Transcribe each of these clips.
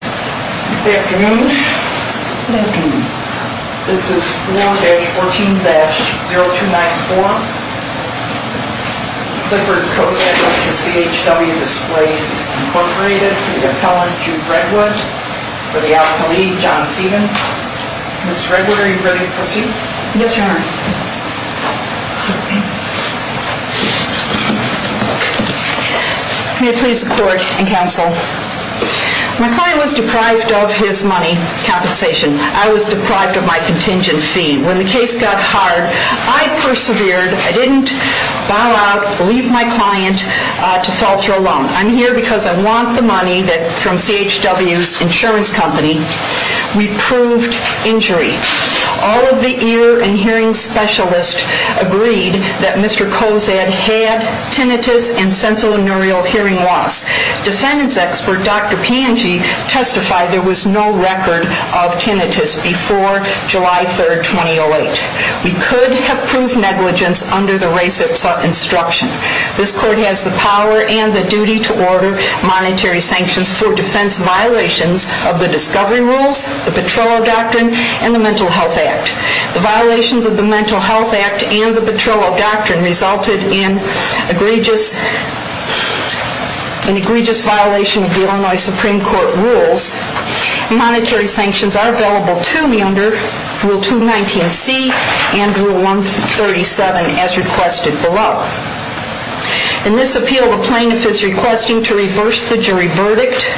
Good afternoon. Good afternoon. This is 4-14-0294. Clifford Cozad v. CHW Displays, Inc. The appellant, Jude Redwood, for the alchemy, John Stevens. Ms. Redwood, are you ready to proceed? Yes, Your Honor. May it please the court and counsel, My client was deprived of his money compensation. I was deprived of my contingent fee. When the case got hard, I persevered. I didn't bow out, leave my client to falter alone. I'm here because I want the money from CHW's insurance company. We proved injury. All of the ear and hearing specialists agreed that Mr. Cozad had tinnitus and sensorineural hearing loss. Defendant's expert, Dr. Pange, testified there was no record of tinnitus before July 3rd, 2008. We could have proved negligence under the RACIPSA instruction. This court has the power and the duty to order monetary sanctions for defense violations of the Discovery Rules, the Petrillo Doctrine, and the Mental Health Act. The violations of the Mental Health Act and the Petrillo Doctrine resulted in an egregious violation of the Illinois Supreme Court rules. Monetary sanctions are available to me under Rule 219C and Rule 137, as requested below. In this appeal, the plaintiff is requesting to reverse the jury verdict,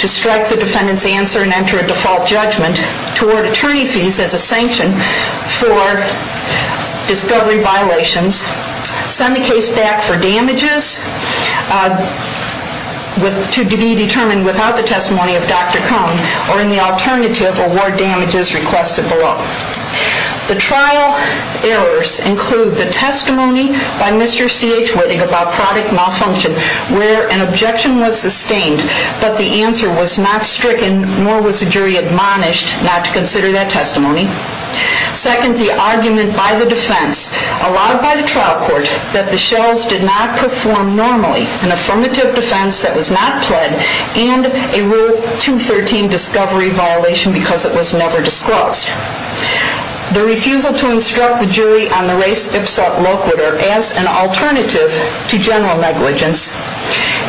to strike the defendant's answer and enter a default judgment, to award attorney fees as a sanction for discovery violations, send the case back for damages to be determined without the testimony of Dr. Cohn, or in the alternative, award damages requested below. The trial errors include the testimony by Mr. C.H. Whitting about product malfunction, where an objection was sustained, but the answer was not stricken, nor was the jury admonished not to consider that testimony. Second, the argument by the defense, allowed by the trial court, that the shells did not perform normally, an affirmative defense that was not pled, and a Rule 213 discovery violation because it was never disclosed. The refusal to instruct the jury on the res ipsa loquitur as an alternative to general negligence,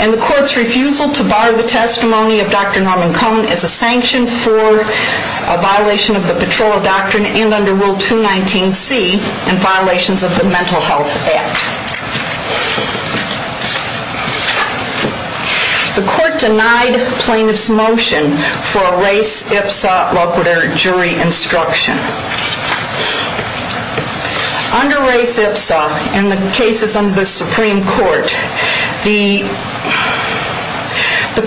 and the court's refusal to bar the testimony of Dr. Norman Cohn as a sanction for a violation of the Petrillo Doctrine, and under Rule 219C, and violations of the Mental Health Act. The court denied plaintiff's motion for a res ipsa loquitur jury instruction. Under res ipsa, in the cases under the Supreme Court, the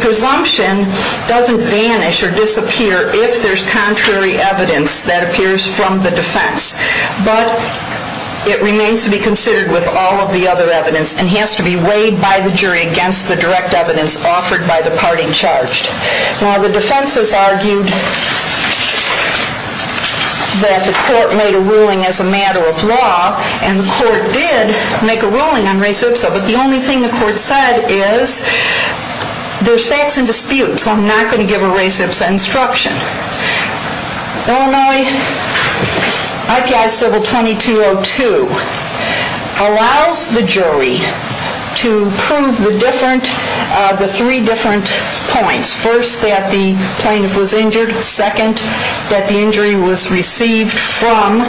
presumption doesn't vanish or disappear if there's contrary evidence that appears from the defense, but it remains to be considered with all of the other evidence, and has to be weighed by the jury against the direct evidence offered by the party charged. Now, the defense has argued that the court made a ruling as a matter of law, and the court did make a ruling on res ipsa, but the only thing the court said is, there's facts in dispute, so I'm not going to give a res ipsa instruction. Normally, IPI Civil 2202 allows the jury to prove the three different points. First, that the plaintiff was injured. Second, that the injury was received from,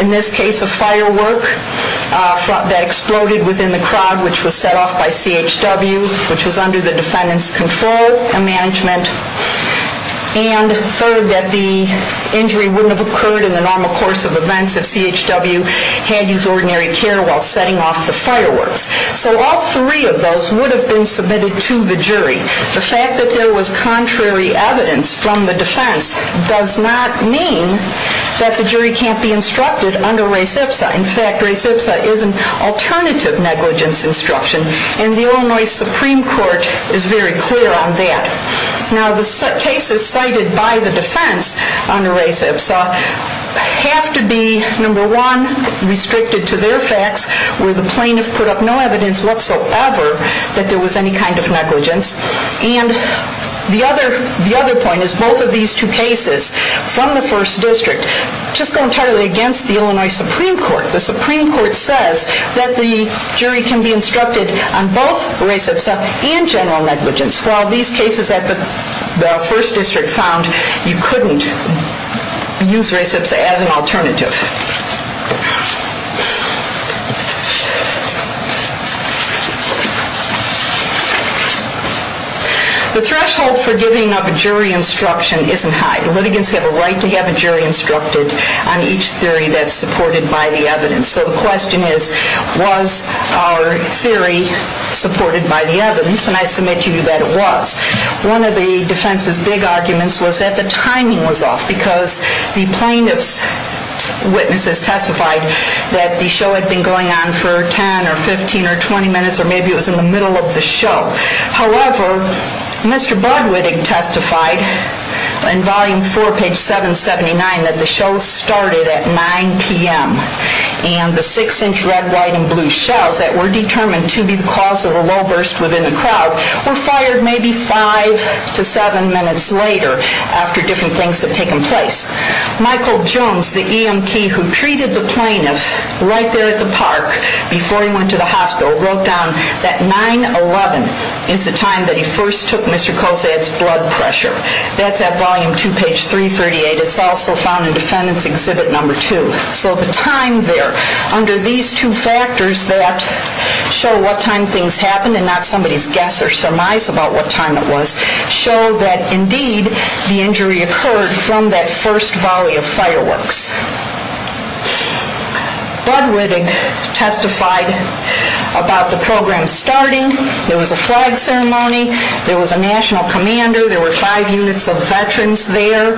in this case, a firework that exploded within the crowd, which was set off by CHW, which was under the defendant's control and management. And third, that the injury wouldn't have occurred in the normal course of events if CHW had used ordinary care while setting off the fireworks. So all three of those would have been submitted to the jury. The fact that there was contrary evidence from the defense does not mean that the jury can't be instructed under res ipsa. In fact, res ipsa is an alternative negligence instruction, and the Illinois Supreme Court is very clear on that. Now, the cases cited by the defense under res ipsa have to be, number one, restricted to their facts, where the plaintiff put up no evidence whatsoever that there was any kind of negligence. And the other point is, both of these two cases from the first district just go entirely against the Illinois Supreme Court. The Supreme Court says that the jury can be instructed on both res ipsa and general negligence, while these cases at the first district found you couldn't use res ipsa as an alternative. The threshold for giving up a jury instruction isn't high. Litigants have a right to have a jury instructed on each theory that's supported by the evidence. So the question is, was our theory supported by the evidence? And I submit to you that it was. One of the defense's big arguments was that the timing was off, because the plaintiff's witnesses testified that the show had been going on for 10 or 15 or 20 minutes, or maybe it was in the middle of the show. However, Mr. Budwitting testified in Volume 4, page 779, that the show started at 9 p.m. And the six-inch red, white, and blue shells that were determined to be the cause of a low burst within the crowd were fired maybe five to seven minutes later, after different things had taken place. Michael Jones, the EMT who treated the plaintiff right there at the park before he went to the hospital, wrote down that 9-11 is the time that he first took Mr. Colzad's blood pressure. That's at Volume 2, page 338. It's also found in Defendant's Exhibit No. 2. So the time there, under these two factors that show what time things happened and not somebody's guess or surmise about what time it was, show that indeed the injury occurred from that first volley of fireworks. Budwitting testified about the program starting. There was a flag ceremony. There was a national commander. There were five units of veterans there.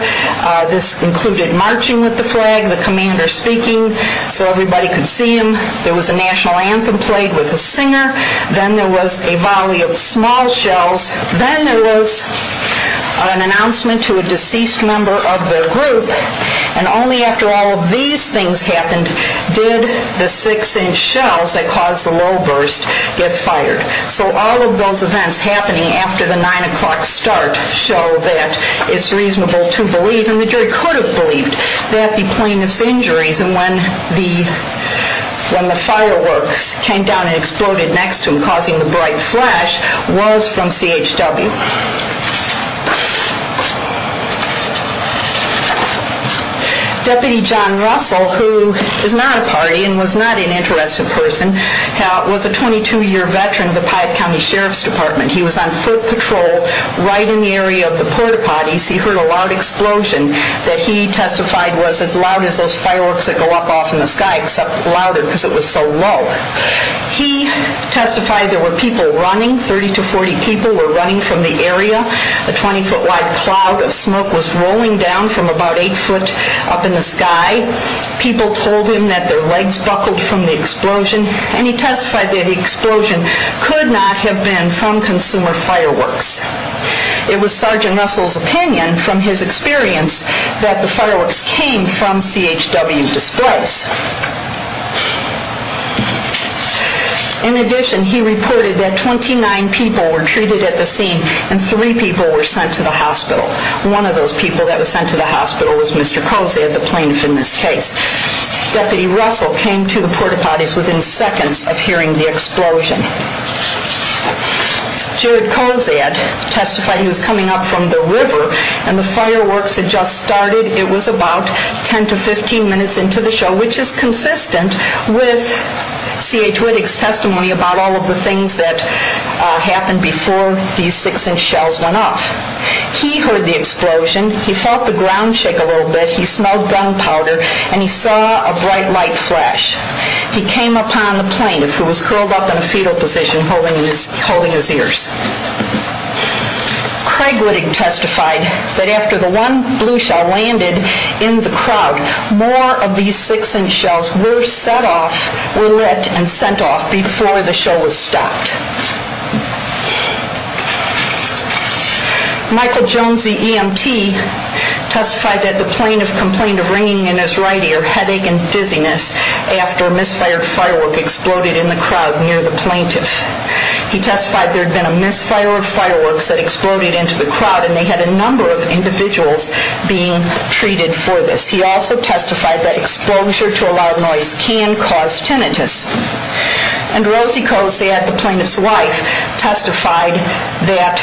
This included marching with the flag, the commander speaking so everybody could see him. There was a national anthem played with a singer. Then there was a volley of small shells. Then there was an announcement to a deceased member of the group. And only after all of these things happened did the six-inch shells that caused the low burst get fired. So all of those events happening after the 9 o'clock start show that it's reasonable to believe, and the jury could have believed, that the plaintiff's injuries and when the fireworks came down and exploded next to him causing the bright flash was from CHW. Deputy John Russell, who is not a party and was not an interested person, was a 22-year veteran of the Piatt County Sheriff's Department. He was on foot patrol right in the area of the porta-potties. He heard a loud explosion that he testified was as loud as those fireworks that go up off in the sky, except louder because it was so low. He testified there were people running, 30 to 40 people were running from the area. A 20-foot-wide cloud of smoke was rolling down from about 8 foot up in the sky. People told him that their lights buckled from the explosion, and he testified that the explosion could not have been from consumer fireworks. It was Sergeant Russell's opinion from his experience that the fireworks came from CHW displays. In addition, he reported that 29 people were treated at the scene and 3 people were sent to the hospital. One of those people that was sent to the hospital was Mr. Kozad, the plaintiff in this case. Deputy Russell came to the porta-potties within seconds of hearing the explosion. Jared Kozad testified he was coming up from the river and the fireworks had just started. It was about 10 to 15 minutes into the show, which is consistent with CHW testimony about all of the things that happened before these 6-inch shells went off. He heard the explosion, he felt the ground shake a little bit, he smelled gunpowder, and he saw a bright light flash. He came upon the plaintiff who was curled up in a fetal position holding his ears. Craig Whitting testified that after the one blue shell landed in the crowd, more of these 6-inch shells were set off, were lit, and sent off before the show was stopped. Michael Jones, the EMT, testified that the plaintiff complained of ringing in his right ear, headache and dizziness after a misfired firework exploded in the crowd near the plaintiff. He testified there had been a misfire of fireworks that exploded into the crowd and they had a number of individuals being treated for this. He also testified that exposure to a loud noise can cause tinnitus. And Rosie Cosette, the plaintiff's wife, testified that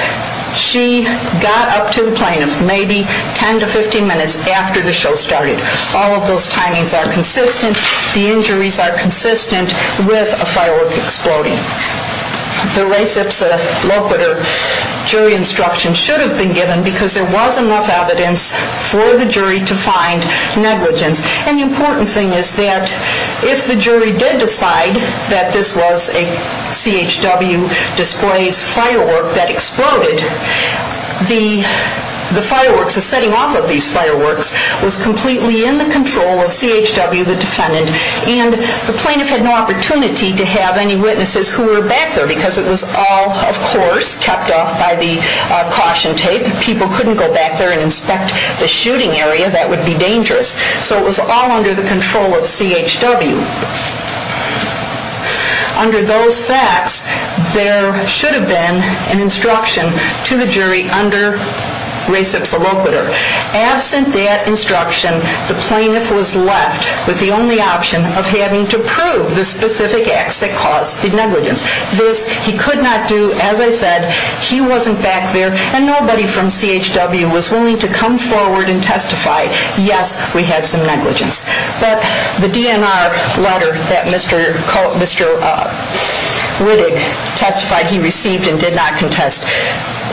she got up to the plaintiff maybe 10 to 15 minutes after the show started. All of those timings are consistent. The injuries are consistent with a firework exploding. The res ipsa loquitur jury instruction should have been given because there was enough evidence for the jury to find negligence. And the important thing is that if the jury did decide that this was a CHW displays firework that exploded, the fireworks, the setting off of these fireworks, was completely in the control of CHW, the defendant. And the plaintiff had no opportunity to have any witnesses who were back there because it was all, of course, kept off by the caution tape. People couldn't go back there and inspect the shooting area. That would be dangerous. So it was all under the control of CHW. Under those facts, there should have been an instruction to the jury under res ipsa loquitur. Absent that instruction, the plaintiff was left with the only option of having to prove the specific acts that caused the negligence. This he could not do. As I said, he wasn't back there. And nobody from CHW was willing to come forward and testify, yes, we had some negligence. But the DNR letter that Mr. Riddick testified he received and did not contest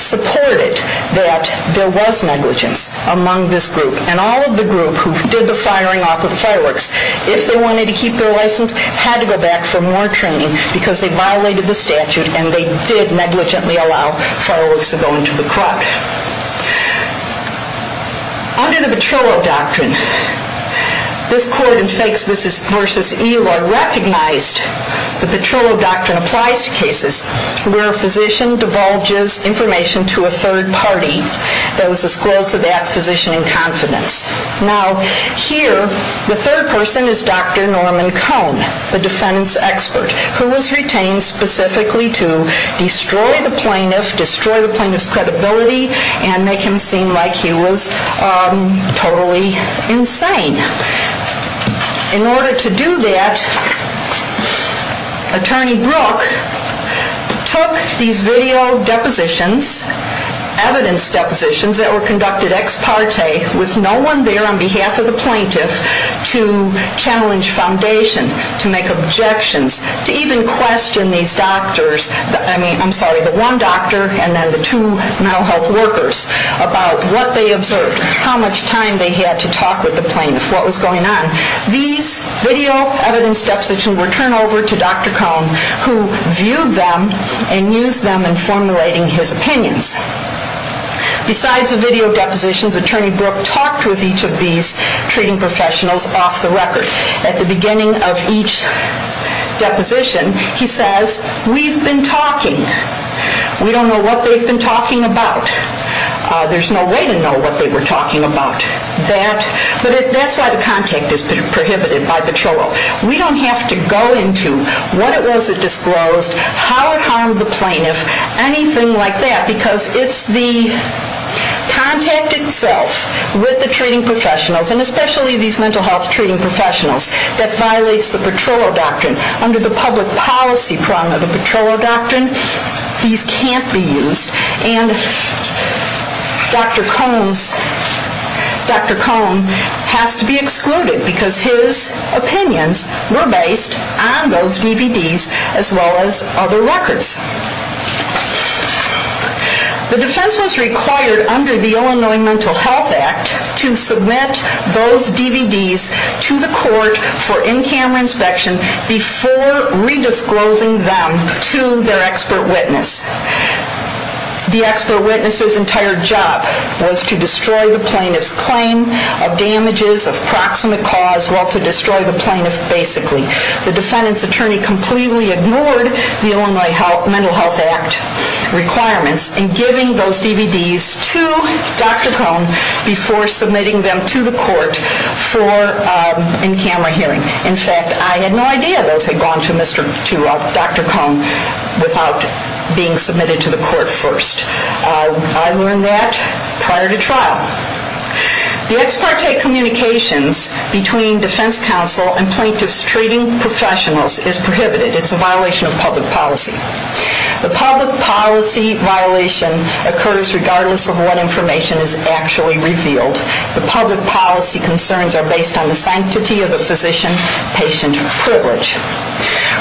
supported that there was negligence among this group. And all of the group who did the firing off of the fireworks, if they wanted to keep their license, had to go back for more training because they violated the statute and they did negligently allow fireworks to go into the crowd. Under the Petrillo Doctrine, this court in Fakes v. Eloy recognized the Petrillo Doctrine applies to cases where a physician divulges information to a third party that was disclosed to that physician in confidence. Now, here, the third person is Dr. Norman Cone, the defendant's expert, who was retained specifically to destroy the plaintiff, destroy the plaintiff's credibility, and make him seem like he was totally insane. In order to do that, Attorney Brooke took these video depositions, evidence depositions, that were conducted ex parte with no one there on behalf of the plaintiff to challenge foundation, to make objections, to even question these doctors, I mean, I'm sorry, the one doctor and then the two mental health workers about what they observed, how much time they had to talk with the plaintiff, what was going on. These video evidence depositions were turned over to Dr. Cone, who viewed them and used them in formulating his opinions. Besides the video depositions, Attorney Brooke talked with each of these treating professionals off the record. At the beginning of each deposition, he says, we've been talking. We don't know what they've been talking about. There's no way to know what they were talking about. But that's why the contact is prohibited by Petrillo. We don't have to go into what it was that disclosed, how it harmed the plaintiff, anything like that, because it's the contact itself with the treating professionals, and especially these mental health treating professionals, that violates the Petrillo Doctrine. Under the public policy prong of the Petrillo Doctrine, these can't be used. And Dr. Cone has to be excluded because his opinions were based on those DVDs as well as other records. The defense was required under the Illinois Mental Health Act to submit those DVDs to the court for in-camera inspection before re-disclosing them to their expert witness. The expert witness's entire job was to destroy the plaintiff's claim of damages of proximate cause, well, to destroy the plaintiff basically. The defendant's attorney completely ignored the Illinois Mental Health Act requirements in giving those DVDs to Dr. Cone before submitting them to the court for in-camera hearing. In fact, I had no idea those had gone to Dr. Cone without being submitted to the court first. I learned that prior to trial. The ex parte communications between defense counsel and plaintiffs treating professionals is prohibited. It's a violation of public policy. The public policy violation occurs regardless of what information is actually revealed. The public policy concerns are based on the sanctity of the physician-patient privilege.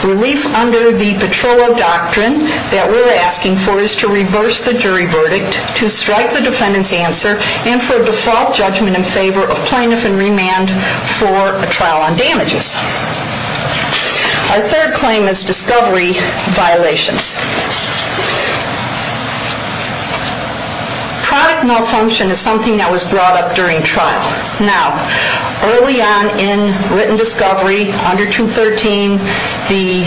Relief under the Petrollo Doctrine that we're asking for is to reverse the jury verdict, to strike the defendant's answer, and for a default judgment in favor of plaintiff in remand for a trial on damages. Our third claim is discovery violations. Product malfunction is something that was brought up during trial. Now, early on in written discovery, under 213, the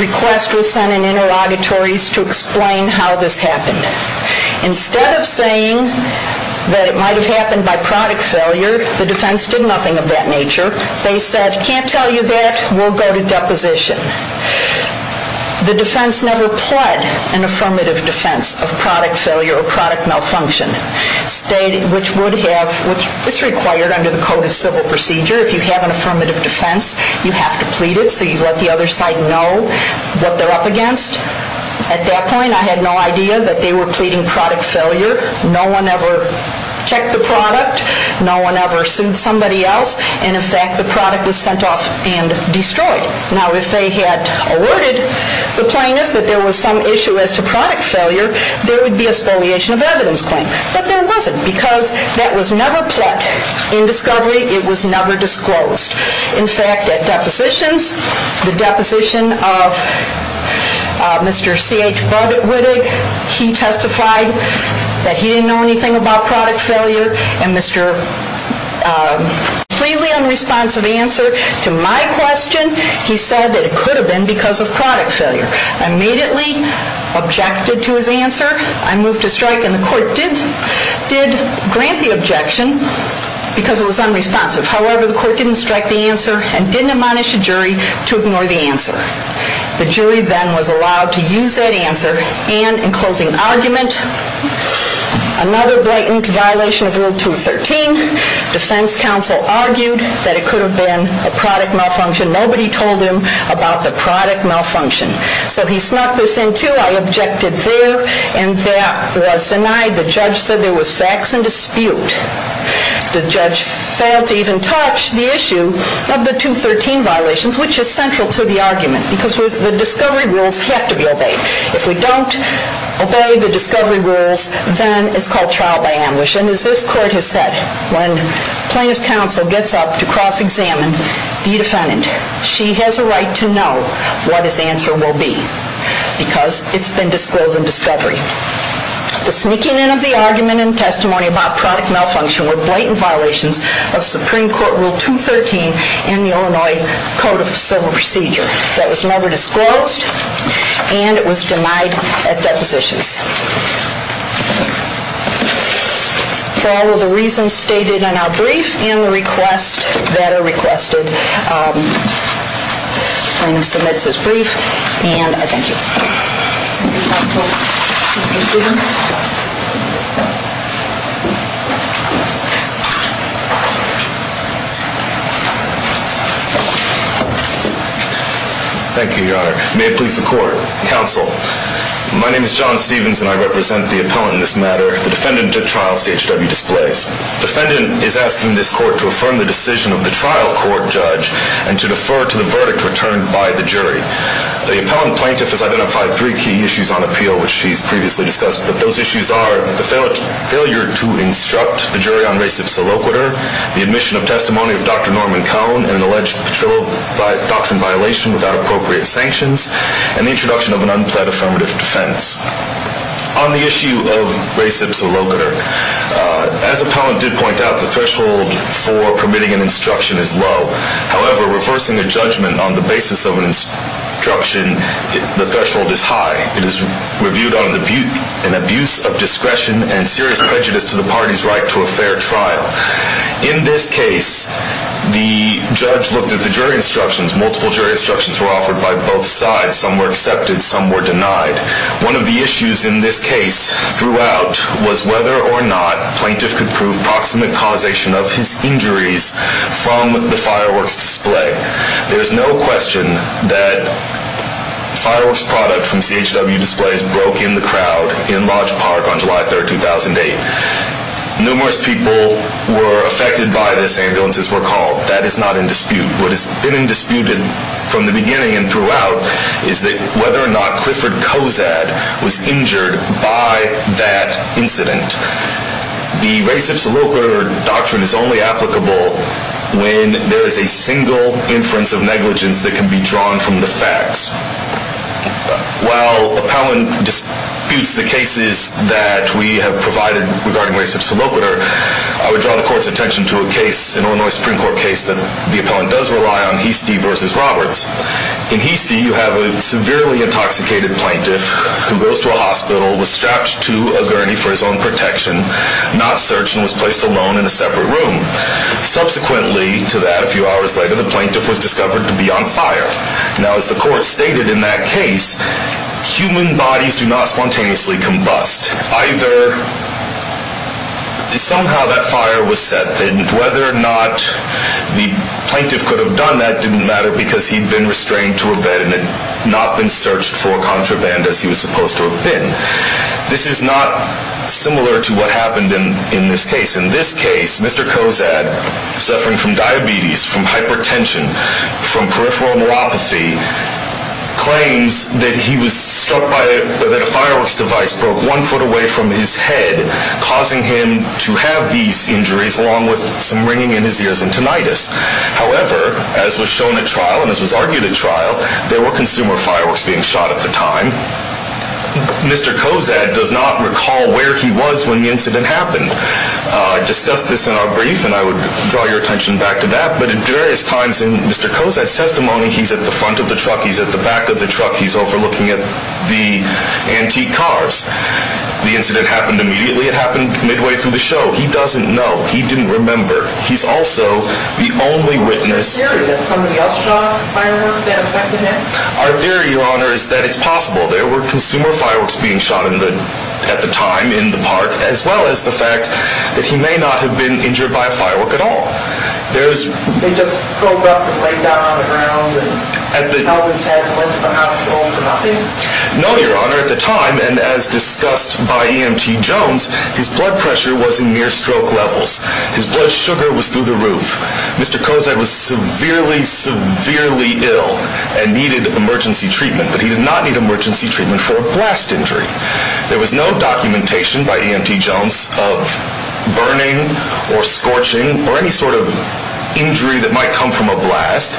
request was sent in interrogatories to explain how this happened. Instead of saying that it might have happened by product failure, the defense did nothing of that nature. They said, can't tell you that. We'll go to deposition. The defense never pled an affirmative defense of product failure or product malfunction, which is required under the Code of Civil Procedure. If you have an affirmative defense, you have to plead it so you let the other side know what they're up against. At that point, I had no idea that they were pleading product failure. No one ever checked the product. No one ever sued somebody else. And, in fact, the product was sent off and destroyed. Now, if they had alerted the plaintiffs that there was some issue as to product failure, there would be a spoliation of evidence claim. But there wasn't, because that was never pled. In discovery, it was never disclosed. In fact, at depositions, the deposition of Mr. C.H. Budwig, he testified that he didn't know anything about product failure. And Mr. Completely unresponsive answer to my question, he said that it could have been because of product failure. I immediately objected to his answer. I moved to strike. And the court did grant the objection because it was unresponsive. However, the court didn't strike the answer and didn't admonish the jury to ignore the answer. The jury then was allowed to use that answer. And, in closing argument, another blatant violation of Rule 213, defense counsel argued that it could have been a product malfunction. Nobody told him about the product malfunction. So he snuck this in, too. I objected there. And that was denied. The judge said there was facts in dispute. The judge failed to even touch the issue of the 213 violations, which is central to the argument because the discovery rules have to be obeyed. If we don't obey the discovery rules, then it's called trial by ambush. And as this court has said, when plaintiff's counsel gets up to cross-examine the defendant, she has a right to know what his answer will be because it's been disclosed in discovery. The sneaking in of the argument and testimony about product malfunction were blatant violations of Supreme Court Rule 213 in the Illinois Code of Civil Procedure. That was never disclosed, and it was denied at depositions. For all of the reasons stated in our brief and the requests that are requested, plaintiff submits his brief, and I thank you. Thank you, counsel. Mr. Stephens? Thank you, Your Honor. May it please the court. Counsel, my name is John Stephens, and I represent the appellant in this matter, the defendant at trial, C.H.W. Displays. The defendant is asking this court to affirm the decision of the trial court judge and to defer to the verdict returned by the jury. The appellant plaintiff has identified three key issues on appeal, which she's previously discussed, but those issues are the failure to instruct the jury on res ipsa loquitur, the admission of testimony of Dr. Norman Cohn in an alleged patrol doctrine violation without appropriate sanctions, and the introduction of an unplead affirmative defense. On the issue of res ipsa loquitur, as appellant did point out, the threshold for permitting an instruction is low. However, reversing a judgment on the basis of an instruction, the threshold is high. It is reviewed on an abuse of discretion and serious prejudice to the party's right to a fair trial. In this case, the judge looked at the jury instructions. Multiple jury instructions were offered by both sides. Some were accepted. Some were denied. One of the issues in this case throughout was whether or not plaintiff could prove the approximate causation of his injuries from the fireworks display. There's no question that fireworks product from CHW displays broke in the crowd in Lodge Park on July 3rd, 2008. Numerous people were affected by this. Ambulances were called. That is not in dispute. What has been in dispute from the beginning and throughout is that whether or not Clifford Kozad was injured by that incident. The res ipsa loquitur doctrine is only applicable when there is a single inference of negligence that can be drawn from the facts. While appellant disputes the cases that we have provided regarding res ipsa loquitur, I would draw the court's attention to a case, an Illinois Supreme Court case, that the appellant does rely on, Heastie v. Roberts. In Heastie, you have a severely intoxicated plaintiff who goes to a hospital, was strapped to a gurney for his own protection, not searched, and was placed alone in a separate room. Subsequently to that, a few hours later, the plaintiff was discovered to be on fire. Now, as the court stated in that case, human bodies do not spontaneously combust. Either somehow that fire was set, and whether or not the plaintiff could have done that didn't matter because he'd been restrained to a bed and had not been searched for contraband as he was supposed to have been. This is not similar to what happened in this case. In this case, Mr. Kozad, suffering from diabetes, from hypertension, from peripheral neuropathy, claims that he was struck by a fireworks device broke one foot away from his head, causing him to have these injuries along with some ringing in his ears and tinnitus. However, as was shown at trial, and as was argued at trial, there were consumer fireworks being shot at the time. Mr. Kozad does not recall where he was when the incident happened. I discussed this in our brief, and I would draw your attention back to that, but at various times in Mr. Kozad's testimony, he's at the front of the truck, he's at the back of the truck, he's overlooking the antique cars. The incident happened immediately. It happened midway through the show. He doesn't know. He didn't remember. He's also the only witness. Is it a theory that somebody else shot a firework that affected him? Our theory, Your Honor, is that it's possible. There were consumer fireworks being shot at the time in the park, as well as the fact that he may not have been injured by a firework at all. They just drove up and laid down on the ground, and he always had to go into the hospital for nothing? No, Your Honor. At the time, and as discussed by EMT Jones, his blood pressure was in near-stroke levels. His blood sugar was through the roof. Mr. Kozad was severely, severely ill and needed emergency treatment, but he did not need emergency treatment for a blast injury. There was no documentation by EMT Jones of burning or scorching or any sort of injury that might come from a blast.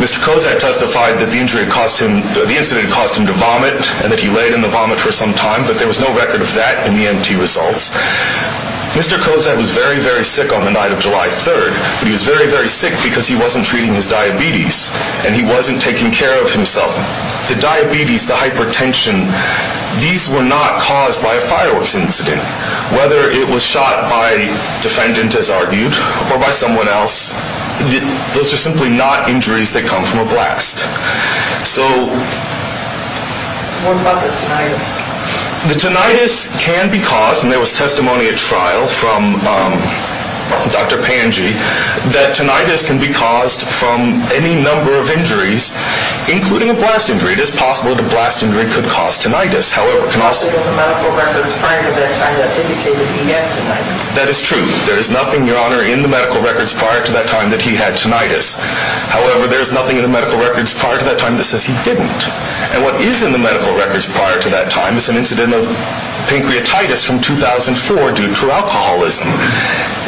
Mr. Kozad testified that the incident had caused him to vomit and that he laid in the vomit for some time, but there was no record of that in the EMT results. Mr. Kozad was very, very sick on the night of July 3rd, but he was very, very sick because he wasn't treating his diabetes and he wasn't taking care of himself. The diabetes, the hypertension, these were not caused by a fireworks incident. Whether it was shot by a defendant, as argued, or by someone else, those are simply not injuries that come from a blast. So... What about the tinnitus? The tinnitus can be caused, and there was testimony at trial from Dr. Panji, that tinnitus can be caused from any number of injuries, including a blast injury. It is possible that a blast injury could cause tinnitus. However, it can also... The medical records prior to this either indicated he had tinnitus. That is true. There is nothing, Your Honor, in the medical records prior to that time that he had tinnitus. However, there is nothing in the medical records prior to that time that says he didn't. And what is in the medical records prior to that time is an incident of pancreatitis from 2004 due to alcoholism.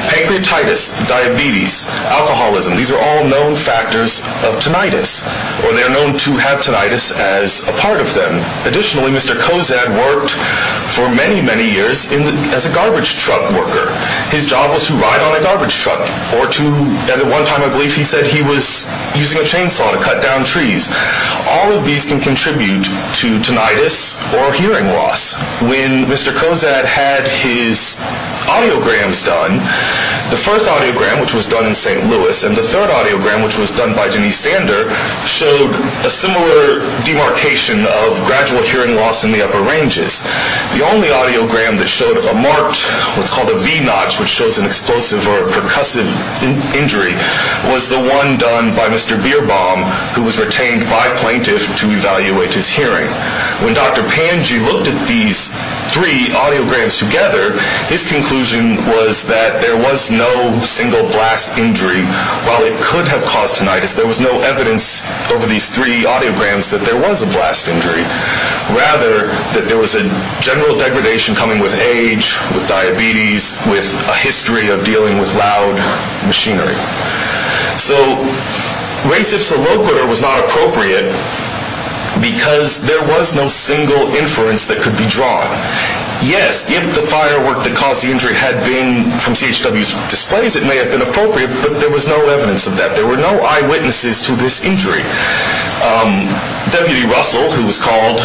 Pancreatitis, diabetes, alcoholism, these are all known factors of tinnitus, or they are known to have tinnitus as a part of them. Additionally, Mr. Kozad worked for many, many years as a garbage truck worker. His job was to ride on a garbage truck, or to... At one time, I believe he said he was using a chainsaw to cut down trees. All of these can contribute to tinnitus or hearing loss. When Mr. Kozad had his audiograms done, the first audiogram, which was done in St. Louis, and the third audiogram, which was done by Denise Sander, showed a similar demarcation of gradual hearing loss in the upper ranges. The only audiogram that showed a marked, what's called a V-notch, which shows an explosive or a percussive injury, was the one done by Mr. Bierbaum, who was retained by plaintiffs to evaluate his hearing. When Dr. Panji looked at these three audiograms together, his conclusion was that there was no single blast injury. While it could have caused tinnitus, there was no evidence over these three audiograms that there was a blast injury. Rather, that there was a general degradation coming with age, with diabetes, with a history of dealing with loud machinery. So, res ipsa loquitur was not appropriate because there was no single inference that could be drawn. Yes, if the firework that caused the injury had been from CHW's displays, it may have been appropriate, but there was no evidence of that. There were no eyewitnesses to this injury. Deputy Russell, who was called,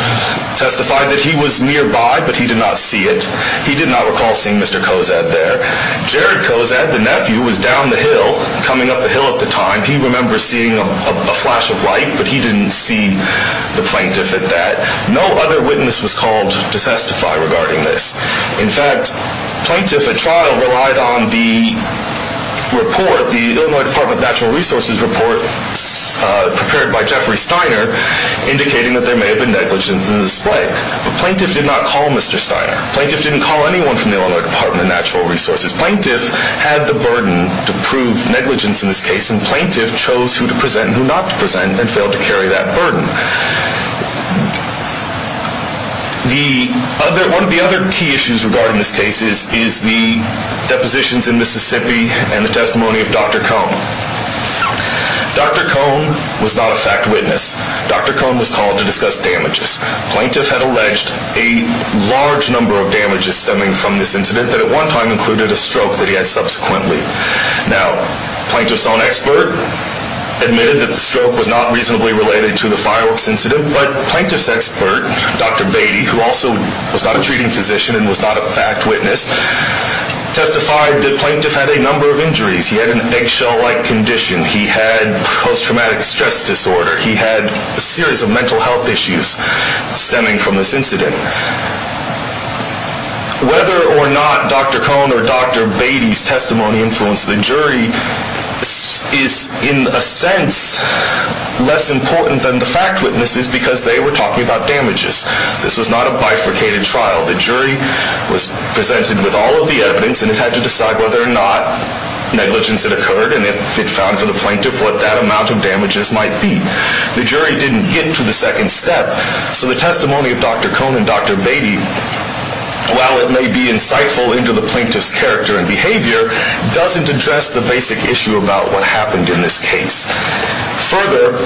testified that he was nearby, but he did not see it. Jared Kozad, the nephew, was down the hill, coming up the hill at the time. He remembers seeing a flash of light, but he didn't see the plaintiff at that. No other witness was called to testify regarding this. In fact, plaintiff at trial relied on the report, the Illinois Department of Natural Resources report prepared by Jeffrey Steiner, indicating that there may have been negligence in the display. The plaintiff did not call Mr. Steiner. Plaintiff didn't call anyone from the Illinois Department of Natural Resources. Plaintiff had the burden to prove negligence in this case, and plaintiff chose who to present and who not to present, and failed to carry that burden. One of the other key issues regarding this case is the depositions in Mississippi and the testimony of Dr. Cone. Dr. Cone was not a fact witness. Dr. Cone was called to discuss damages. Plaintiff had alleged a large number of damages stemming from this incident that at one time included a stroke that he had subsequently. Now, plaintiff's own expert admitted that the stroke was not reasonably related to the fireworks incident, but plaintiff's expert, Dr. Beatty, who also was not a treating physician and was not a fact witness, testified that plaintiff had a number of injuries. He had an eggshell-like condition. He had post-traumatic stress disorder. He had a series of mental health issues stemming from this incident. Whether or not Dr. Cone or Dr. Beatty's testimony influenced the jury is, in a sense, less important than the fact witnesses because they were talking about damages. This was not a bifurcated trial. The jury was presented with all of the evidence and had to decide whether or not negligence had occurred and if it found for the plaintiff what that amount of damages might be. The jury didn't get to the second step, so the testimony of Dr. Cone and Dr. Beatty, while it may be insightful into the plaintiff's character and behavior, doesn't address the basic issue about what happened in this case. Further,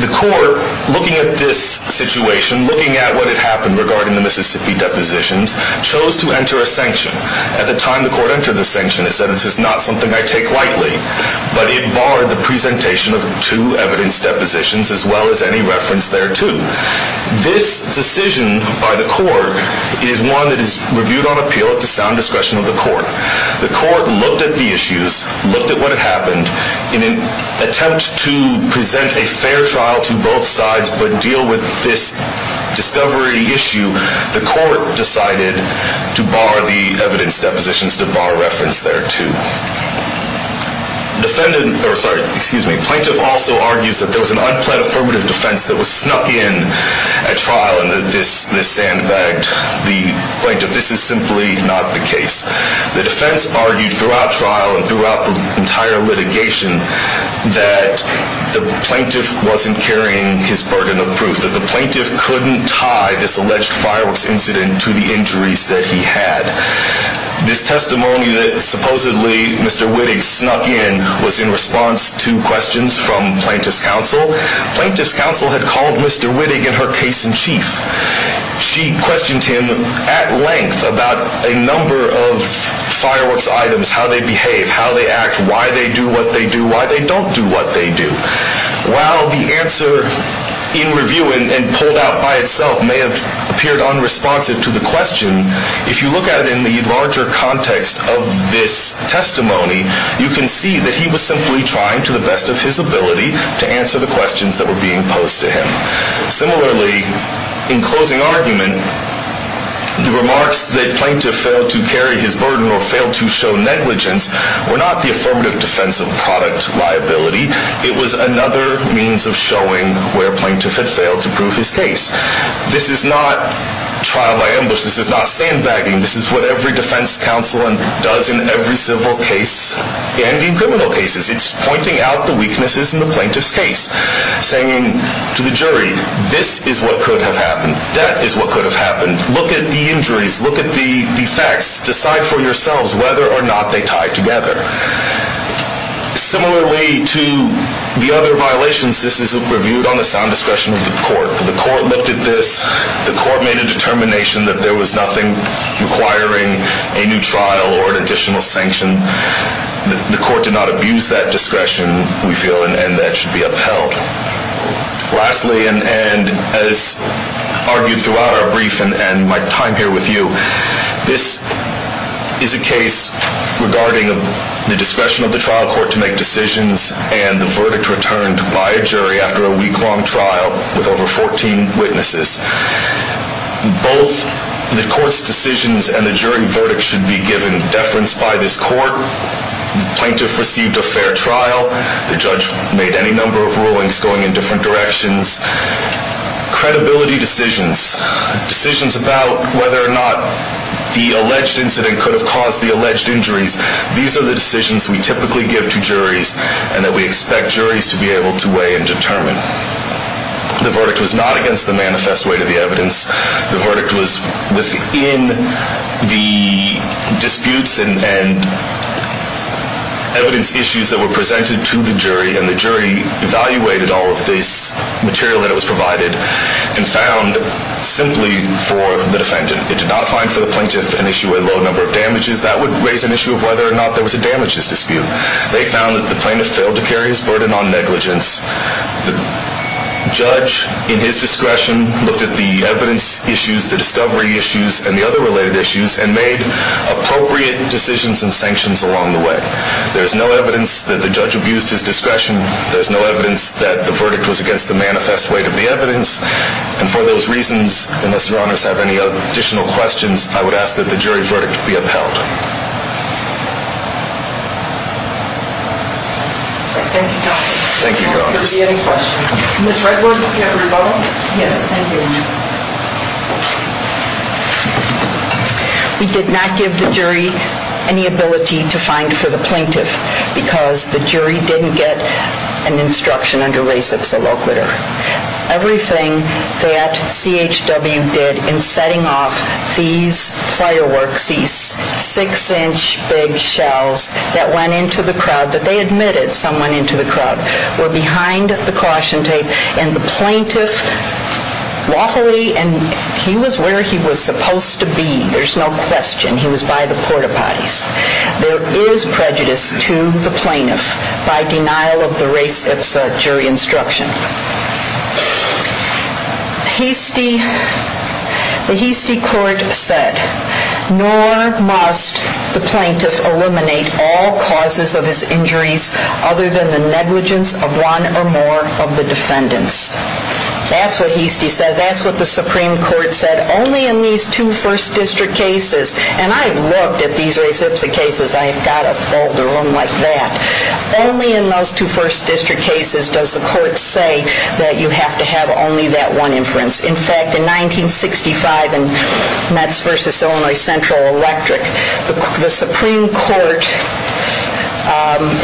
the court, looking at this situation, looking at what had happened regarding the Mississippi depositions, chose to enter a sanction. At the time the court entered the sanction, it said, this is not something I take lightly. But it barred the presentation of two evidence depositions, as well as any reference thereto. This decision by the court is one that is reviewed on appeal at the sound discretion of the court. The court looked at the issues, looked at what had happened. In an attempt to present a fair trial to both sides but deal with this discovery issue, the court decided to bar the evidence depositions, to bar reference thereto. The plaintiff also argues that there was an unplanned affirmative defense that was snuck in at trial and that this sandbagged the plaintiff. This is simply not the case. The defense argued throughout trial and throughout the entire litigation that the plaintiff wasn't carrying his burden of proof, that the plaintiff couldn't tie this alleged fireworks incident to the injuries that he had. This testimony that supposedly Mr. Wittig snuck in was in response to questions from plaintiff's counsel. Plaintiff's counsel had called Mr. Wittig in her case in chief. She questioned him at length about a number of fireworks items, how they behave, how they act, why they do what they do, why they don't do what they do. While the answer in review and pulled out by itself may have appeared unresponsive to the question, if you look at it in the larger context of this testimony, you can see that he was simply trying to the best of his ability to answer the questions that were being posed to him. Similarly, in closing argument, the remarks that plaintiff failed to carry his burden or failed to show negligence were not the affirmative defense of product liability. It was another means of showing where plaintiff had failed to prove his case. This is not trial by ambush. This is not sandbagging. This is what every defense counsel does in every civil case and in criminal cases. It's pointing out the weaknesses in the plaintiff's case, saying to the jury, this is what could have happened. That is what could have happened. Look at the injuries. Look at the effects. Decide for yourselves whether or not they tie together. Similarly to the other violations, this is reviewed on the sound discretion of the court. The court looked at this. The court made a determination that there was nothing requiring a new trial or an additional sanction. The court did not abuse that discretion, we feel, and that should be upheld. Lastly, and as argued throughout our brief and my time here with you, this is a case regarding the discretion of the trial court to make decisions and the verdict returned by a jury after a week-long trial with over 14 witnesses. Both the court's decisions and the jury verdict should be given deference by this court. The plaintiff received a fair trial. The judge made any number of rulings going in different directions. Credibility decisions, decisions about whether or not the alleged incident could have caused the alleged injuries, these are the decisions we typically give to juries and that we expect juries to be able to weigh and determine. The verdict was not against the manifest weight of the evidence. The verdict was within the disputes and evidence issues that were presented to the jury, and the jury evaluated all of this material that was provided and found simply for the defendant. It did not find for the plaintiff an issue with a low number of damages. That would raise an issue of whether or not there was a damages dispute. They found that the plaintiff failed to carry his burden on negligence. The judge, in his discretion, looked at the evidence issues, the discovery issues, and the other related issues and made appropriate decisions and sanctions along the way. There's no evidence that the judge abused his discretion. And for those reasons, unless your honors have any additional questions, I would ask that the jury verdict be upheld. We did not give the jury any ability to find for the plaintiff because the jury didn't get an instruction under Res Ex Illoquitur. Everything that CHW did in setting off these player works, these six-inch big shells that went into the crowd, that they admitted some went into the crowd, were behind the caution tape. And the plaintiff lawfully, and he was where he was supposed to be, there's no question, he was by the porta potties. There is prejudice to the plaintiff by denial of the Res Ipsa jury instruction. The Heastie Court said, nor must the plaintiff eliminate all causes of his injuries other than the negligence of one or more of the defendants. That's what Heastie said. That's what the Supreme Court said. Only in these two First District cases, and I've looked at these Res Ipsa cases, I've got a folder, one like that. Only in those two First District cases does the court say that you have to have only that one inference. In fact, in 1965 in Metz v. Illinois Central Electric, the Supreme Court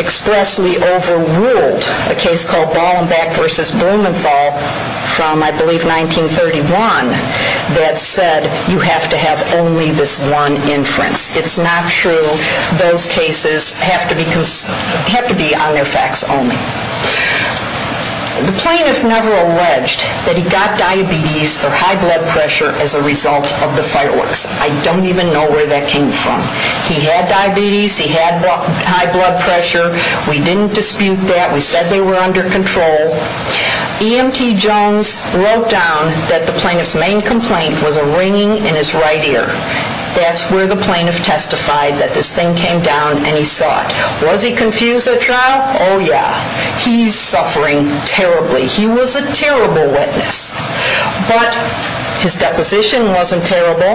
expressly overruled a case called Ballenbeck v. Blumenthal from, I believe, 1931 that said you have to have only this one inference. It's not true. Those cases have to be on their facts only. The plaintiff never alleged that he got diabetes or high blood pressure as a result of the fireworks. I don't even know where that came from. He had diabetes. He had high blood pressure. We didn't dispute that. We said they were under control. EMT Jones wrote down that the plaintiff's main complaint was a ringing in his right ear. That's where the plaintiff testified that this thing came down, and he saw it. Was he confused at trial? Oh, yeah. He's suffering terribly. He was a terrible witness. But his deposition wasn't terrible,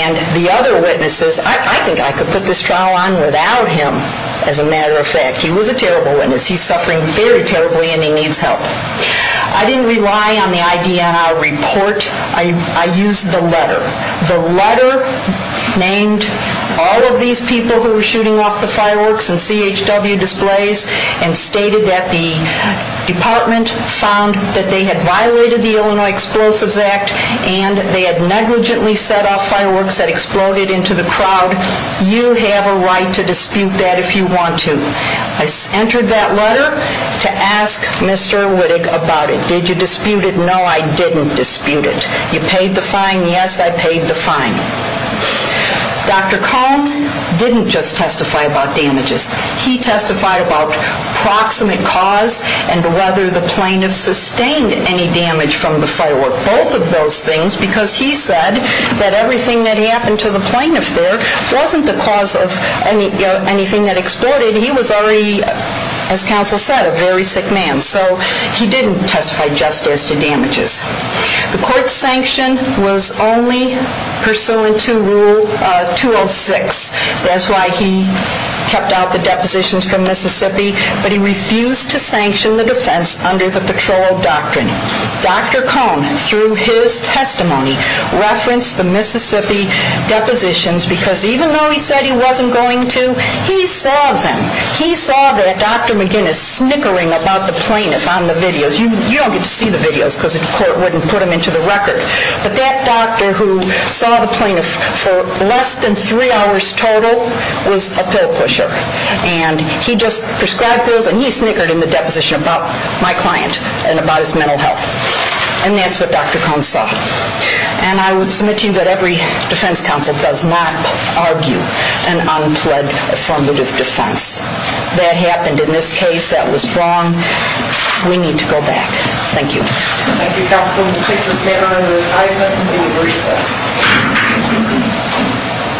and the other witnesses, I think I could put this trial on without him, as a matter of fact. He was a terrible witness. He's suffering very terribly, and he needs help. I didn't rely on the IDNR report. I used the letter. The letter named all of these people who were shooting off the fireworks and CHW displays and stated that the department found that they had violated the Illinois Explosives Act and they had negligently set off fireworks that exploded into the crowd. You have a right to dispute that if you want to. I entered that letter to ask Mr. Wittig about it. Did you dispute it? No, I didn't dispute it. You paid the fine? Yes, I paid the fine. Dr. Cohn didn't just testify about damages. He testified about proximate cause and whether the plaintiff sustained any damage from the firework, both of those things, because he said that everything that happened to the plaintiff there wasn't the cause of anything that exploded. He was already, as counsel said, a very sick man. So he didn't testify just as to damages. The court's sanction was only pursuant to Rule 206. That's why he kept out the depositions from Mississippi, but he refused to sanction the defense under the patrol doctrine. Dr. Cohn, through his testimony, referenced the Mississippi depositions because even though he said he wasn't going to, he saw them. He saw that Dr. McGinnis snickering about the plaintiff on the videos. You don't get to see the videos because the court wouldn't put them into the record. But that doctor who saw the plaintiff for less than three hours total was a pill pusher. And he just prescribed pills, and he snickered in the deposition about my client and about his mental health. And that's what Dr. Cohn saw. And I would submit to you that every defense counsel does not argue an unpledged affirmative defense. That happened in this case. That was wrong. We need to go back. Thank you. Thank you, counsel. We'll take this matter under advisement in recess.